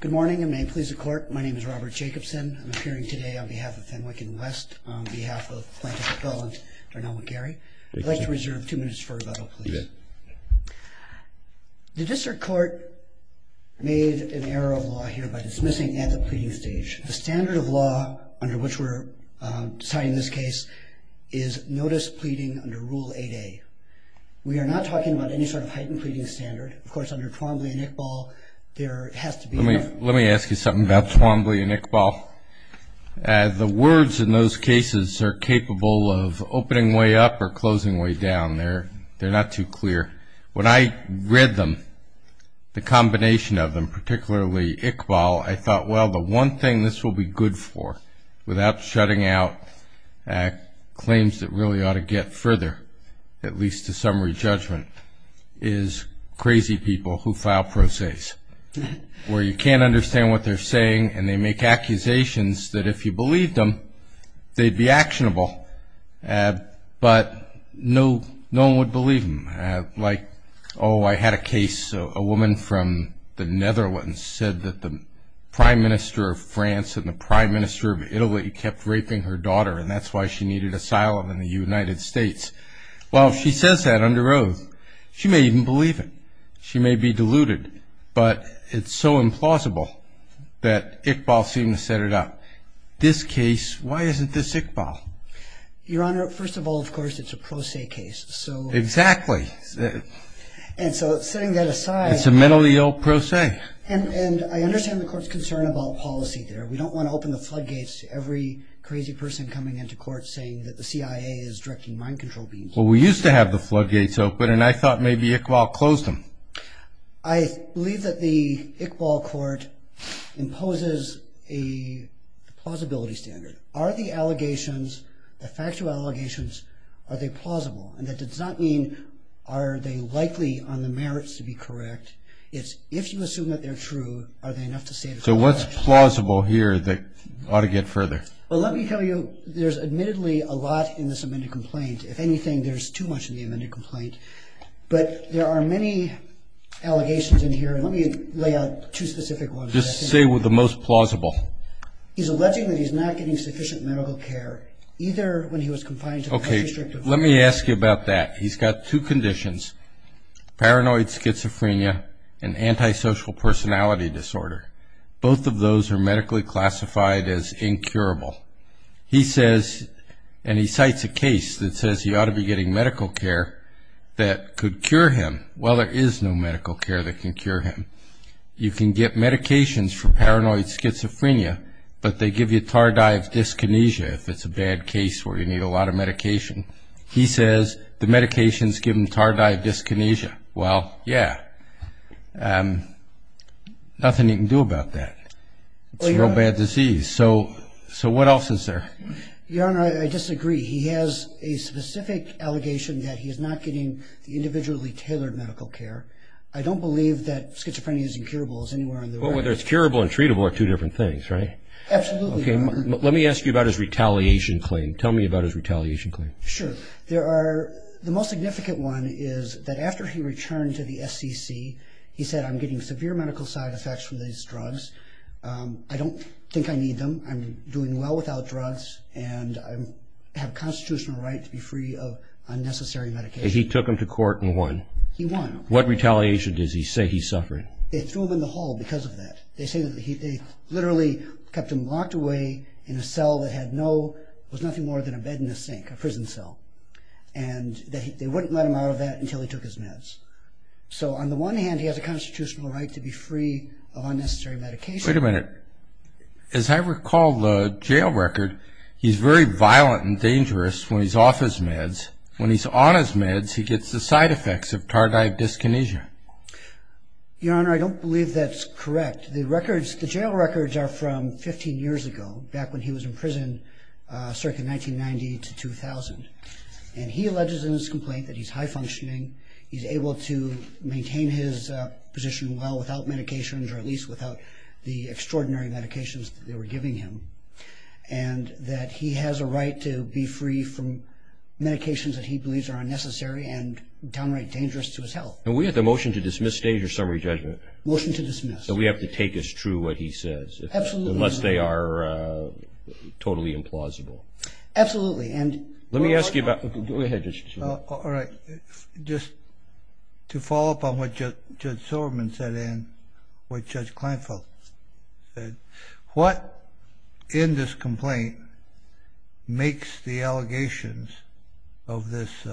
Good morning, and may it please the court, my name is Robert Jacobson. I'm appearing today on behalf of Fenwick & West, on behalf of Plaintiff Appellant Darnell McGary. I'd like to reserve two minutes for rebuttal, please. The District Court made an error of law here by dismissing at the pleading stage. The standard of law under which we're deciding this case is notice pleading under Rule 8A. We are not talking about any sort of heightened pleading standard. Of course, under Twombly and Iqbal, there has to be... Let me ask you something about Twombly and Iqbal. The words in those cases are capable of opening way up or closing way down. They're not too clear. When I read them, the combination of them, particularly Iqbal, I thought, well, the one thing this will be good for, without shutting out claims that really ought to get further, at least to summary judgment, is crazy people who file pro ses, where you can't understand what they're saying and they make accusations that if you believed them, they'd be actionable, but no one would believe them. Like, oh, I had a case, a woman from the Netherlands said that the Prime Minister of France and the Prime Minister of Italy kept raping her daughter, and that's why she needed asylum in the United States. Well, if she says that under oath, she may even believe it. She may be deluded, but it's so implausible that Iqbal seemed to set it up. This case, why isn't this Iqbal? Your Honor, first of all, of course, it's a pro se case, so... Exactly. And so, setting that aside... It's a mentally ill pro se. And I understand the Court's concern about policy there. We don't want to open the floodgates to every crazy person coming into court saying that the CIA is directing mind control beams. Well, we used to have the floodgates open, and I thought maybe Iqbal closed them. I believe that the Iqbal Court imposes a plausibility standard. Are the allegations, the factual allegations, are they plausible? And that does not mean are they likely on the merits to be correct. It's if you assume that they're true, are they enough to say that they're correct? So what's plausible here that ought to get further? Well, let me tell you, there's admittedly a lot in this amended complaint. If anything, there's too much in the amended complaint. But there are many allegations in here, and let me lay out two specific ones. Just say the most plausible. He's alleging that he's not getting sufficient medical care, either when he was confined to... He says, and he cites a case that says he ought to be getting medical care that could cure him. Well, there is no medical care that can cure him. You can get medications for paranoid schizophrenia, but they give you tardive dyskinesia if it's a bad case where you need a lot of medication. He says the medications give him tardive dyskinesia. Well, yeah. Nothing he can do about that. It's a real bad disease. So what else is there? Your Honor, I disagree. He has a specific allegation that he's not getting the individually tailored medical care. I don't believe that schizophrenia is incurable as anywhere on the record. Well, whether it's curable and treatable are two different things, right? Absolutely, Your Honor. Let me ask you about his retaliation claim. Tell me about his retaliation claim. Sure. The most significant one is that after he returned to the SCC, he said, I'm getting severe medical side effects from these drugs. I don't think I need them. I'm doing well without drugs, and I have a constitutional right to be free of unnecessary medication. He took him to court and won. He won. What retaliation does he say he's suffering? They threw him in the hall because of that. They say that they literally kept him locked away in a cell that was nothing more than a bed in a sink, a prison cell, and they wouldn't let him out of that until he took his meds. So on the one hand, he has a constitutional right to be free of unnecessary medication. Wait a minute. As I recall the jail record, he's very violent and dangerous when he's off his meds. When he's on his meds, he gets the side effects of tardive dyskinesia. Your Honor, I don't believe that's correct. The records, the jail records are from 15 years ago, back when he was in prison, circa 1990 to 2000. And he alleges in his complaint that he's high-functioning, he's able to maintain his position well without medications, or at least without the extraordinary medications that they were giving him, and that he has a right to be free from medications that he believes are unnecessary and downright dangerous to his health. And we have the motion to dismiss state your summary judgment. Motion to dismiss. So we have to take as true what he says. Absolutely. Unless they are totally implausible. Absolutely. Let me ask you about – go ahead, Justice Scalia. All right. Just to follow up on what Judge Silverman said and what Judge Kleinfeld said, what in this complaint makes the allegations of this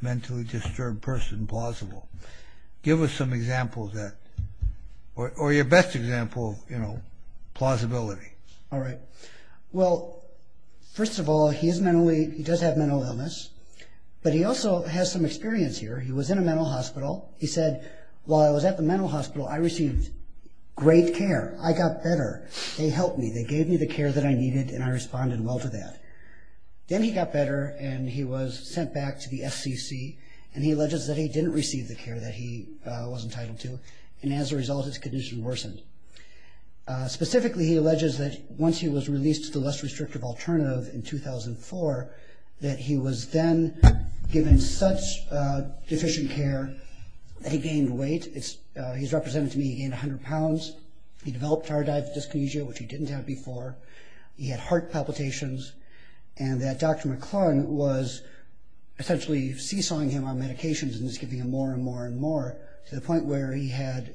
mentally disturbed person plausible? Give us some examples of that. Or your best example, you know, plausibility. All right. Well, first of all, he does have mental illness, but he also has some experience here. He was in a mental hospital. He said, while I was at the mental hospital, I received great care. I got better. They helped me. They gave me the care that I needed, and I responded well to that. Then he got better, and he was sent back to the FCC, and he alleges that he didn't receive the care that he was entitled to, and as a result, his condition worsened. Specifically, he alleges that once he was released to the less restrictive alternative in 2004, that he was then given such deficient care that he gained weight. He's represented to me. He gained 100 pounds. He developed heart-dive dyskinesia, which he didn't have before. He had heart palpitations. And that Dr. McClung was essentially seesawing him on medications and just giving him more and more and more to the point where he had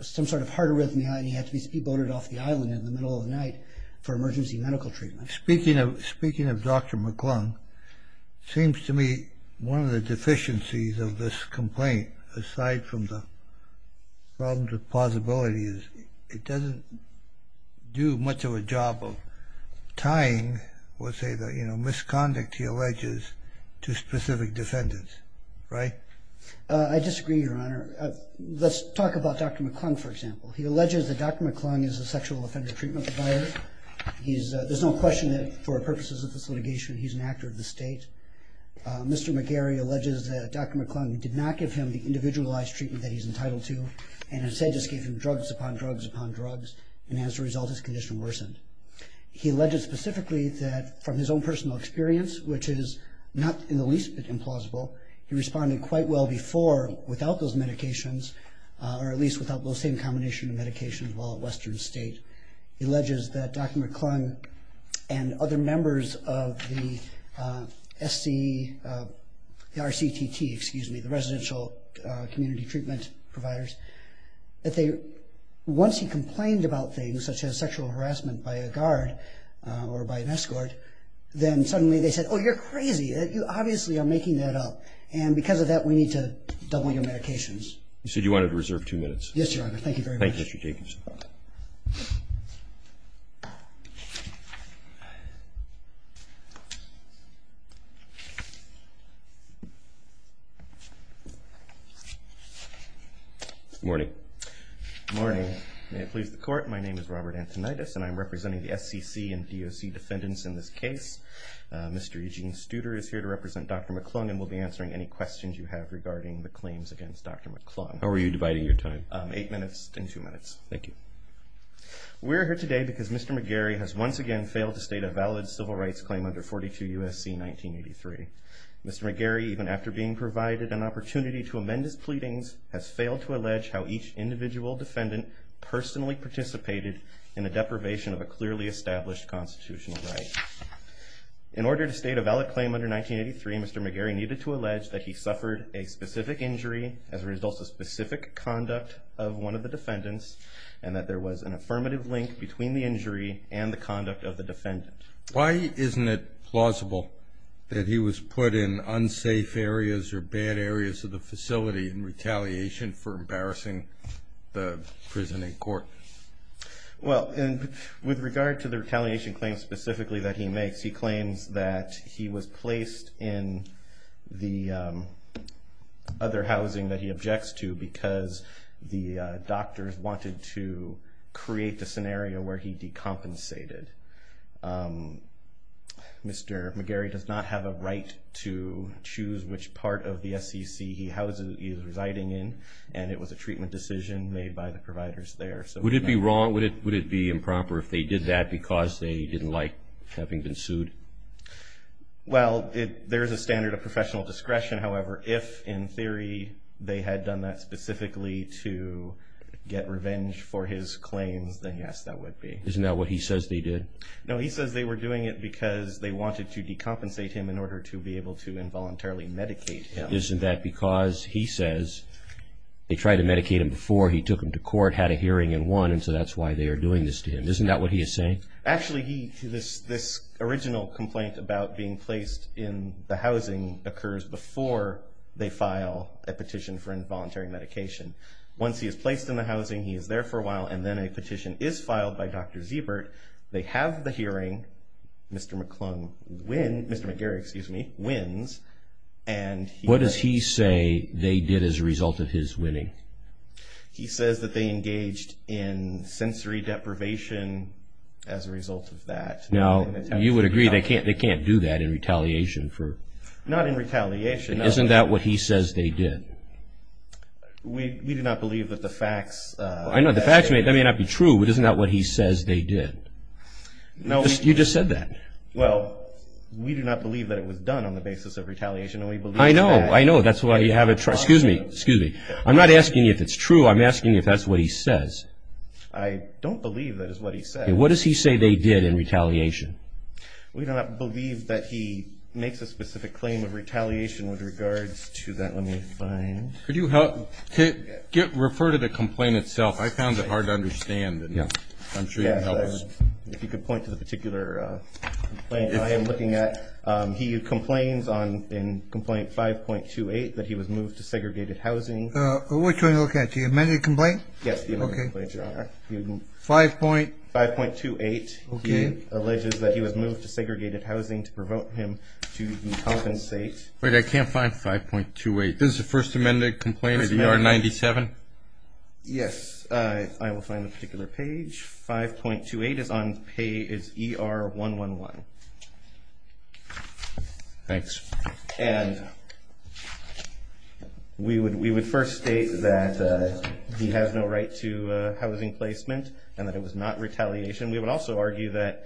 some sort of heart arrhythmia, and he had to be speedboated off the island in the middle of the night for emergency medical treatment. Speaking of Dr. McClung, it seems to me one of the deficiencies of this complaint, aside from the problems with plausibility, is it doesn't do much of a job of tying, let's say, the misconduct he alleges to specific defendants, right? I disagree, Your Honor. Let's talk about Dr. McClung, for example. He alleges that Dr. McClung is a sexual offender treatment provider. There's no question that for purposes of this litigation, he's an actor of the state. Mr. McGarry alleges that Dr. McClung did not give him the individualized treatment that he's entitled to, and instead just gave him drugs upon drugs upon drugs, and as a result, his condition worsened. He alleges specifically that from his own personal experience, which is not in the least bit implausible, he responded quite well before without those medications, or at least without those same combination of medications while at Western State. He alleges that Dr. McClung and other members of the RCTT, the residential community treatment providers, that once he complained about things such as sexual harassment by a guard or by an escort, then suddenly they said, oh, you're crazy. You obviously are making that up. And because of that, we need to double your medications. You said you wanted to reserve two minutes. Thank you very much. Thank you, Mr. Jacobson. Good morning. Good morning. May it please the Court, my name is Robert Antonides, and I'm representing the SCC and DOC defendants in this case. Mr. Eugene Studer is here to represent Dr. McClung and will be answering any questions you have regarding the claims against Dr. McClung. How are you dividing your time? Eight minutes and two minutes. Thank you. We're here today because Mr. McGarry has once again failed to state a valid civil rights claim under 42 U.S.C. 1983. Mr. McGarry, even after being provided an opportunity to amend his pleadings, has failed to allege how each individual defendant personally participated in the deprivation of a clearly established constitutional right. In order to state a valid claim under 1983, Mr. McGarry needed to allege that he suffered a specific injury as a result of specific conduct of one of the defendants and that there was an affirmative link between the injury and the conduct of the defendant. Why isn't it plausible that he was put in unsafe areas or bad areas of the facility in retaliation for embarrassing the prison in court? Well, with regard to the retaliation claim specifically that he makes, he claims that he was placed in the other housing that he objects to because the doctors wanted to create the scenario where he decompensated. Mr. McGarry does not have a right to choose which part of the SEC he is residing in and it was a treatment decision made by the providers there. Would it be wrong, would it be improper if they did that because they didn't like having been sued? Well, there is a standard of professional discretion. However, if in theory they had done that specifically to get revenge for his claims, then yes, that would be. Isn't that what he says they did? No, he says they were doing it because they wanted to decompensate him in order to be able to involuntarily medicate him. Isn't that because he says they tried to medicate him before he took him to court, had a hearing and won, and so that's why they are doing this to him? Isn't that what he is saying? Actually, this original complaint about being placed in the housing occurs before they file a petition for involuntary medication. Once he is placed in the housing, he is there for a while, and then a petition is filed by Dr. Siebert. They have the hearing. Mr. McGarry wins. What does he say they did as a result of his winning? He says that they engaged in sensory deprivation as a result of that. Now, you would agree they can't do that in retaliation for... Not in retaliation. Isn't that what he says they did? We do not believe that the facts... I know, the facts may not be true, but isn't that what he says they did? No. You just said that. Well, we do not believe that it was done on the basis of retaliation, and we believe that... I know, I know. That's why you have a... Excuse me, excuse me. I'm not asking you if it's true. I'm asking you if that's what he says. I don't believe that is what he says. What does he say they did in retaliation? We do not believe that he makes a specific claim of retaliation with regards to that. Let me find... Could you refer to the complaint itself? I found it hard to understand, and I'm sure you can help us. If you could point to the particular complaint I am looking at. He complains in complaint 5.28 that he was moved to segregated housing. Which one are you looking at, the amended complaint? Yes, the amended complaint, Your Honor. 5.28. Okay. He alleges that he was moved to segregated housing to provoke him to decompensate. Wait, I can't find 5.28. This is the first amended complaint of ER 97? Yes. I will find the particular page. Page 5.28 is on page ER 111. Thanks. And we would first state that he has no right to housing placement and that it was not retaliation. We would also argue that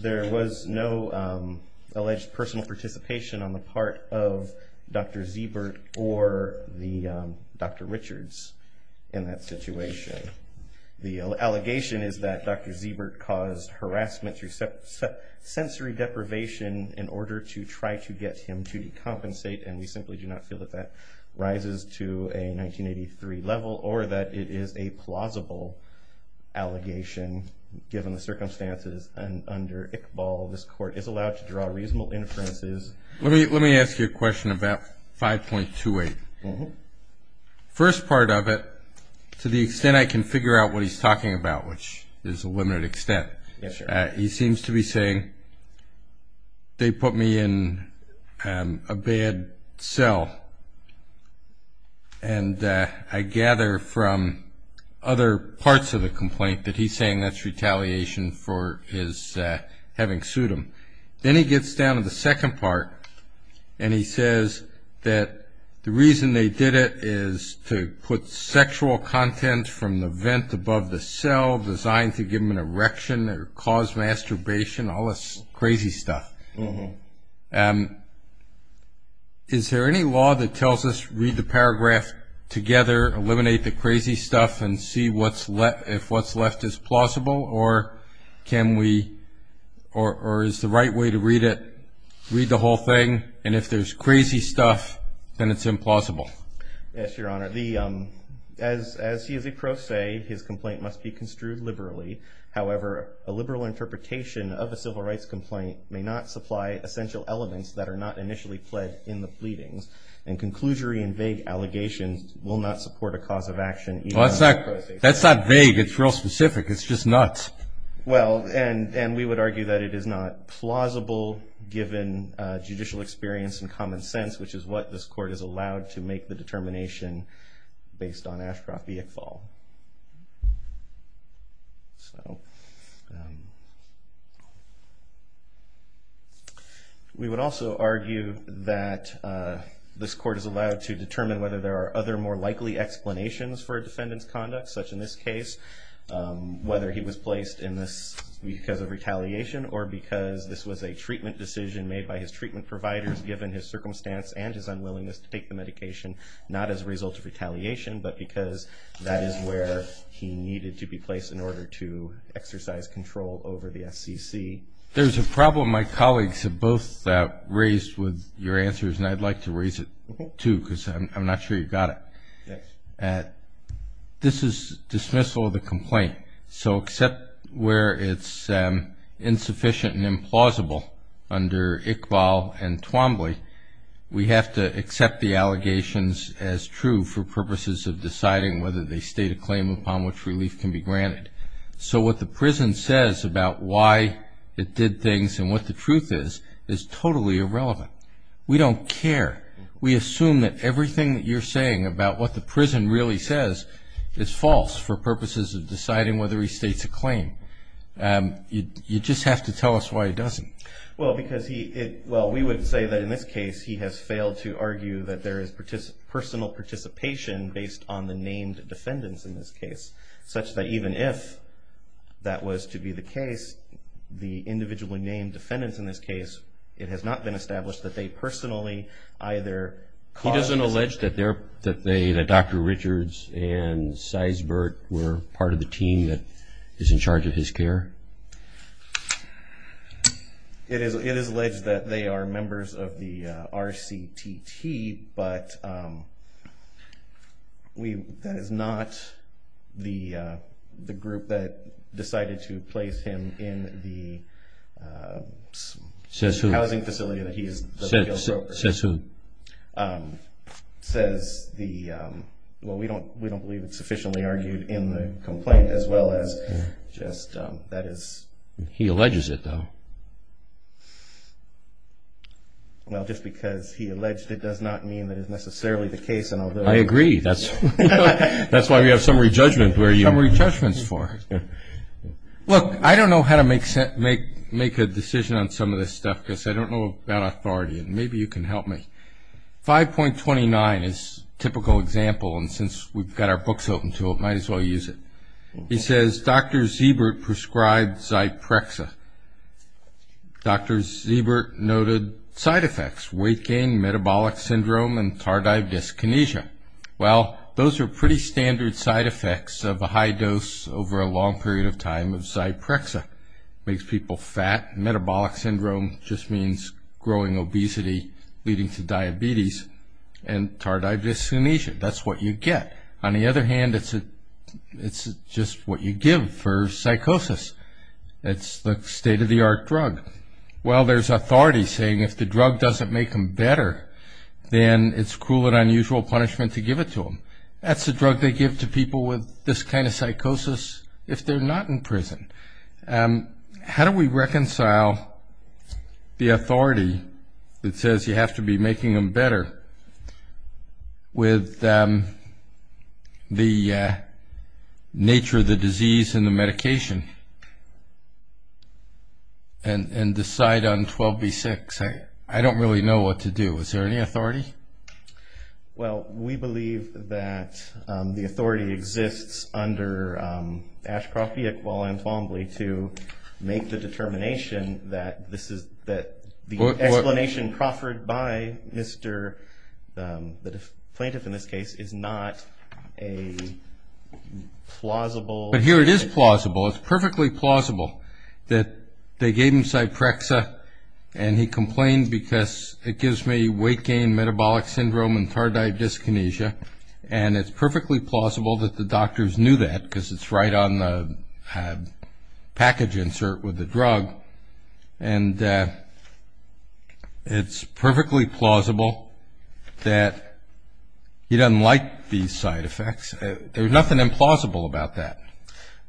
there was no alleged personal participation on the part of Dr. Zeebert or Dr. Richards in that situation. The allegation is that Dr. Zeebert caused harassment through sensory deprivation in order to try to get him to decompensate, and we simply do not feel that that rises to a 1983 level or that it is a plausible allegation given the circumstances under Iqbal. This Court is allowed to draw reasonable inferences. Let me ask you a question about 5.28. Mm-hmm. First part of it, to the extent I can figure out what he's talking about, which is a limited extent. Yes, sir. He seems to be saying they put me in a bad cell, and I gather from other parts of the complaint that he's saying that's retaliation for his having sued him. Then he gets down to the second part, and he says that the reason they did it is to put sexual content from the vent above the cell designed to give him an erection or cause masturbation, all this crazy stuff. Mm-hmm. Is there any law that tells us, read the paragraph together, eliminate the crazy stuff, and see if what's left is plausible, or is the right way to read it, read the whole thing, and if there's crazy stuff, then it's implausible? Yes, Your Honor. As he is a pro se, his complaint must be construed liberally. However, a liberal interpretation of a civil rights complaint may not supply essential elements that are not initially pled in the pleadings, and conclusory and vague allegations will not support a cause of action. Well, that's not vague. It's real specific. It's just nuts. Well, and we would argue that it is not plausible given judicial experience and common sense, which is what this court is allowed to make the determination based on Ashcroft v. Iqbal. And whether there are other more likely explanations for a defendant's conduct, such in this case, whether he was placed in this because of retaliation or because this was a treatment decision made by his treatment providers, given his circumstance and his unwillingness to take the medication, not as a result of retaliation, but because that is where he needed to be placed in order to exercise control over the FCC. There's a problem my colleagues have both raised with your answers, and I'd like to raise it too because I'm not sure you've got it. This is dismissal of the complaint. So except where it's insufficient and implausible under Iqbal and Twombly, we have to accept the allegations as true for purposes of deciding whether they state a claim upon which relief can be granted. So what the prison says about why it did things and what the truth is is totally irrelevant. We don't care. We assume that everything that you're saying about what the prison really says is false for purposes of deciding whether he states a claim. You just have to tell us why he doesn't. Well, we would say that in this case he has failed to argue that there is personal participation based on the named defendants in this case, such that even if that was to be the case, the individually named defendants in this case, it has not been established that they personally either caused this. He doesn't allege that Dr. Richards and Seisbert were part of the team that is in charge of his care? It is alleged that they are members of the RCTT, but that is not the group that decided to place him in the housing facility that he is the real broker. Says who? We don't believe it's sufficiently argued in the complaint as well as just that is... He alleges it, though. Well, just because he alleged it does not mean that it is necessarily the case, and although... I agree. That's why we have summary judgment where you... Summary judgments for. Look, I don't know how to make a decision on some of this stuff because I don't know about authority, and maybe you can help me. 5.29 is a typical example, and since we've got our books open to it, might as well use it. He says Dr. Seisbert prescribed Zyprexa. Dr. Seisbert noted side effects, weight gain, metabolic syndrome, and tardive dyskinesia. Well, those are pretty standard side effects of a high dose over a long period of time of Zyprexa. It makes people fat. Metabolic syndrome just means growing obesity leading to diabetes and tardive dyskinesia. That's what you get. On the other hand, it's just what you give for psychosis. It's the state-of-the-art drug. Well, there's authority saying if the drug doesn't make them better, then it's cruel and unusual punishment to give it to them. That's the drug they give to people with this kind of psychosis if they're not in prison. How do we reconcile the authority that says you have to be making them better with the nature of the disease and the medication and decide on 12B6? I don't really know what to do. Is there any authority? Well, we believe that the authority exists under Ashcroft, Bickwell, and Fombley to make the determination that the explanation proffered by the plaintiff in this case is not a plausible explanation. But here it is plausible. It's perfectly plausible that they gave him Zyprexa, and he complained because it gives me weight gain, metabolic syndrome, and tardive dyskinesia. And it's perfectly plausible that the doctors knew that because it's right on the package insert with the drug. And it's perfectly plausible that he doesn't like these side effects. There's nothing implausible about that.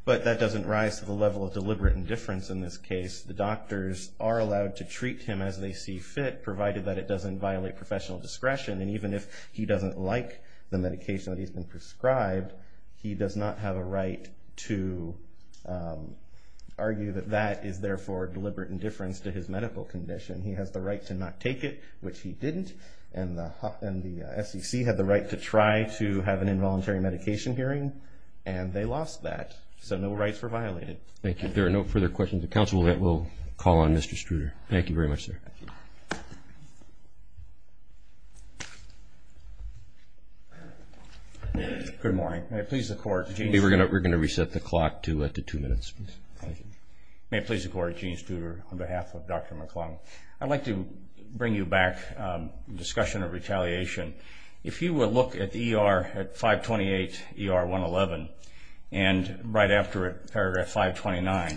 But that doesn't rise to the level of deliberate indifference in this case. The doctors are allowed to treat him as they see fit, provided that it doesn't violate professional discretion. And even if he doesn't like the medication that he's been prescribed, he does not have a right to argue that that is, therefore, deliberate indifference to his medical condition. He has the right to not take it, which he didn't. And the SEC had the right to try to have an involuntary medication hearing, and they lost that. So no rights were violated. Thank you. If there are no further questions of counsel, we'll call on Mr. Struder. Thank you very much, sir. Good morning. May it please the Court, Gene Struder. We're going to reset the clock to two minutes. May it please the Court, Gene Struder, on behalf of Dr. McClung. I'd like to bring you back to the discussion of retaliation. If you will look at ER 528, ER 111, and right after it, paragraph 529, I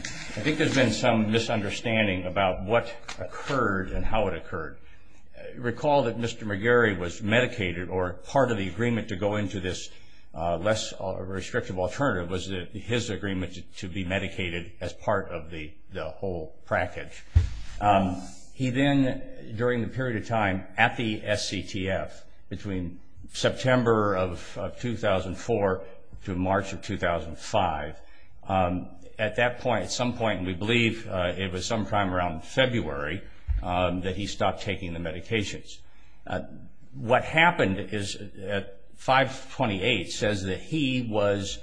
think there's been some misunderstanding about what occurred and how it occurred. Recall that Mr. McGarry was medicated, or part of the agreement to go into this less restrictive alternative was his agreement to be medicated as part of the whole package. He then, during the period of time at the SCTF, between September of 2004 to March of 2005, at that point, at some point, and we believe it was sometime around February, that he stopped taking the medications. What happened is 528 says that he was,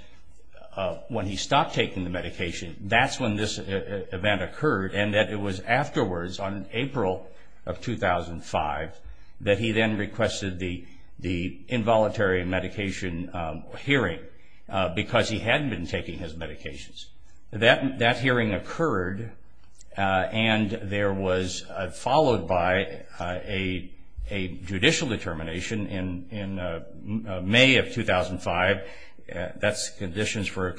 when he stopped taking the medication, that's when this event occurred, and that it was afterwards, on April of 2005, that he then requested the involuntary medication hearing because he hadn't been taking his medications. That hearing occurred, and there was, followed by a judicial determination in May of 2005, that's conditions for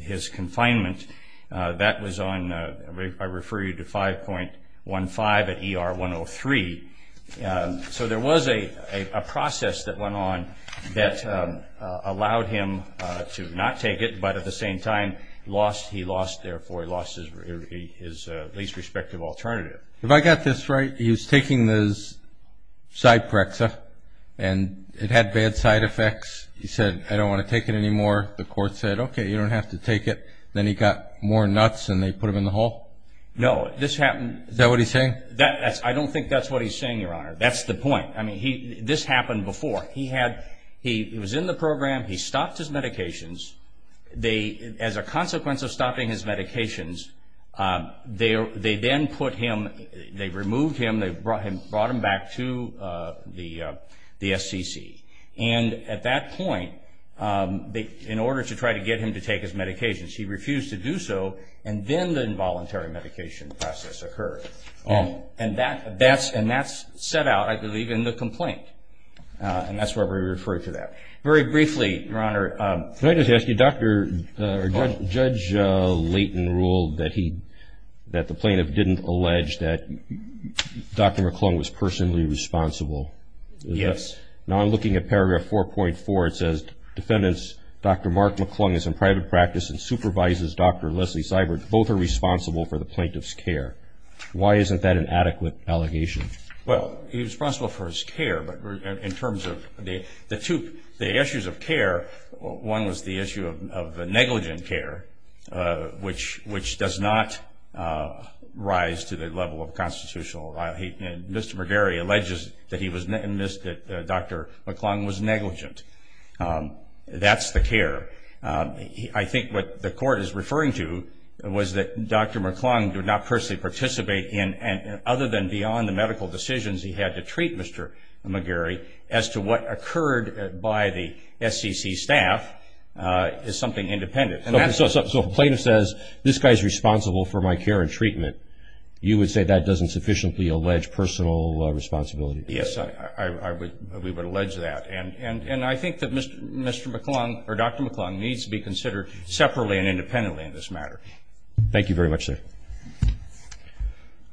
his confinement, that was on, I refer you to 5.15 at ER 103. So there was a process that went on that allowed him to not take it, but at the same time lost, he lost, therefore he lost his least respective alternative. If I got this right, he was taking his Cyprexa, and it had bad side effects. He said, I don't want to take it anymore. The court said, okay, you don't have to take it. Then he got more nuts, and they put him in the hole? No, this happened. Is that what he's saying? I don't think that's what he's saying, Your Honor. That's the point. I mean, this happened before. He was in the program. He stopped his medications. As a consequence of stopping his medications, they then put him, they removed him, they brought him back to the SCC. And at that point, in order to try to get him to take his medications, he refused to do so, and then the involuntary medication process occurred. And that's set out, I believe, in the complaint, and that's where we refer to that. Very briefly, Your Honor, Can I just ask you, Judge Layton ruled that the plaintiff didn't allege that Dr. McClung was personally responsible. Yes. Now I'm looking at paragraph 4.4. It says, Defendants Dr. Mark McClung is in private practice and supervises Dr. Leslie Cybert. Both are responsible for the plaintiff's care. Why isn't that an adequate allegation? Well, he's responsible for his care, but in terms of the two, the issues of care, one was the issue of negligent care, which does not rise to the level of constitutional. Mr. McGarry alleges that he was, that Dr. McClung was negligent. That's the care. I think what the court is referring to was that Dr. McClung did not personally participate in, other than beyond the medical decisions he had to treat Mr. McGarry, as to what occurred by the SEC staff is something independent. So if a plaintiff says, this guy is responsible for my care and treatment, you would say that doesn't sufficiently allege personal responsibility? Yes, we would allege that. And I think that Dr. McClung needs to be considered separately and independently in this matter. Thank you very much, sir.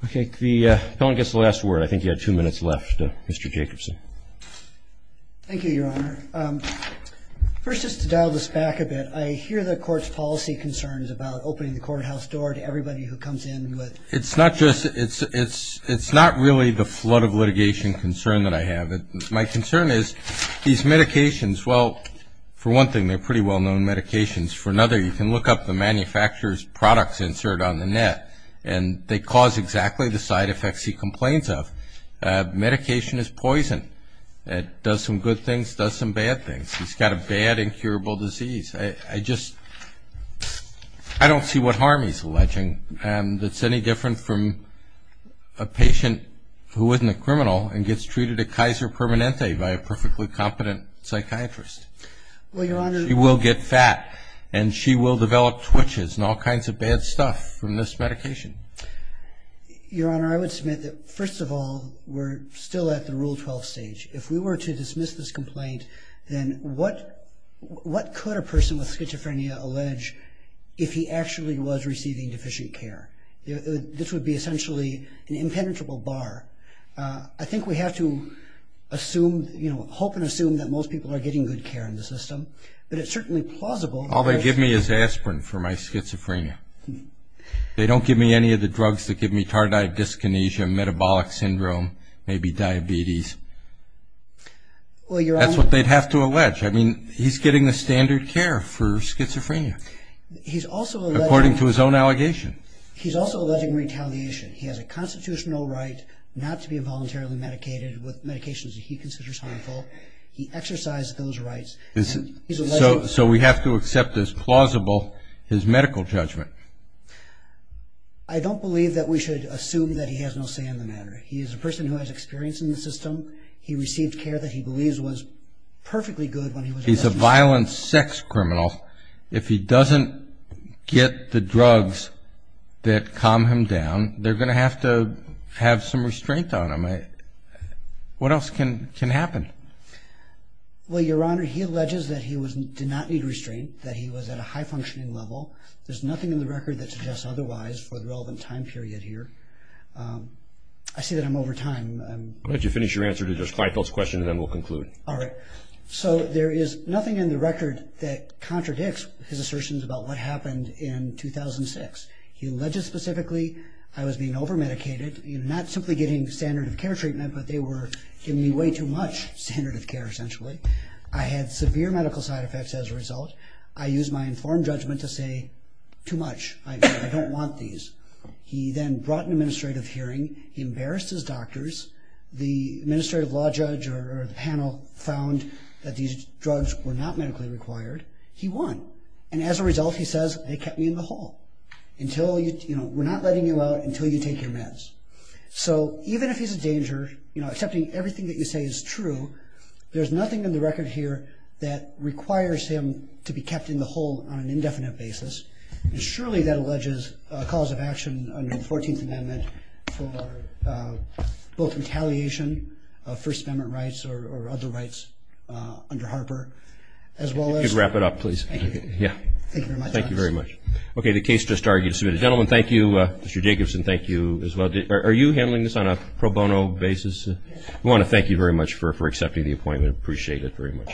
Okay. The appellant gets the last word. I think you had two minutes left, Mr. Jacobson. Thank you, Your Honor. First, just to dial this back a bit, I hear the court's policy concerns about opening the courthouse door to everybody who comes in with. It's not just, it's not really the flood of litigation concern that I have. My concern is these medications, well, for one thing, they're pretty well-known medications. For another, you can look up the manufacturer's products inserted on the net, and they cause exactly the side effects he complains of. Medication is poison. It does some good things, does some bad things. He's got a bad, incurable disease. I just, I don't see what harm he's alleging that's any different from a patient who isn't a criminal and gets treated at Kaiser Permanente by a perfectly competent psychiatrist. Well, Your Honor. She will get fat, and she will develop twitches and all kinds of bad stuff from this medication. Your Honor, I would submit that, first of all, we're still at the Rule 12 stage. If we were to dismiss this complaint, then what could a person with schizophrenia allege if he actually was receiving deficient care? This would be essentially an impenetrable bar. I think we have to hope and assume that most people are getting good care in the system, but it's certainly plausible. All they give me is aspirin for my schizophrenia. They don't give me any of the drugs that give me tardive dyskinesia, metabolic syndrome, maybe diabetes. That's what they'd have to allege. I mean, he's getting the standard care for schizophrenia, according to his own allegation. He's also alleging retaliation. He has a constitutional right not to be involuntarily medicated with medications he considers harmful. He exercises those rights. So we have to accept as plausible his medical judgment. I don't believe that we should assume that he has no say in the matter. He is a person who has experience in the system. He received care that he believes was perfectly good when he was in the system. He's a violent sex criminal. If he doesn't get the drugs that calm him down, they're going to have to have some restraint on him. What else can happen? Well, Your Honor, he alleges that he did not need restraint, that he was at a high-functioning level. There's nothing in the record that suggests otherwise for the relevant time period here. I see that I'm over time. Why don't you finish your answer to Judge Kleifel's question and then we'll conclude. All right. So there is nothing in the record that contradicts his assertions about what happened in 2006. He alleged specifically I was being over-medicated, not simply getting standard of care treatment, but they were giving me way too much standard of care, essentially. I had severe medical side effects as a result. I used my informed judgment to say too much. I don't want these. He then brought an administrative hearing. He embarrassed his doctors. The administrative law judge or the panel found that these drugs were not medically required. He won. And as a result, he says, they kept me in the hole. We're not letting you out until you take your meds. So even if he's a danger, accepting everything that you say is true, there's nothing in the record here that requires him to be kept in the hole on an indefinite basis. And surely that alleges a cause of action under the 14th Amendment for both retaliation of First Amendment rights or other rights under Harper as well as. Could you wrap it up, please? Thank you. Yeah. Thank you very much. Thank you very much. Okay. The case just argued is submitted. Gentlemen, thank you. Mr. Jacobson, thank you as well. Are you handling this on a pro bono basis? Yes. We want to thank you very much for accepting the appointment. Appreciate it very much.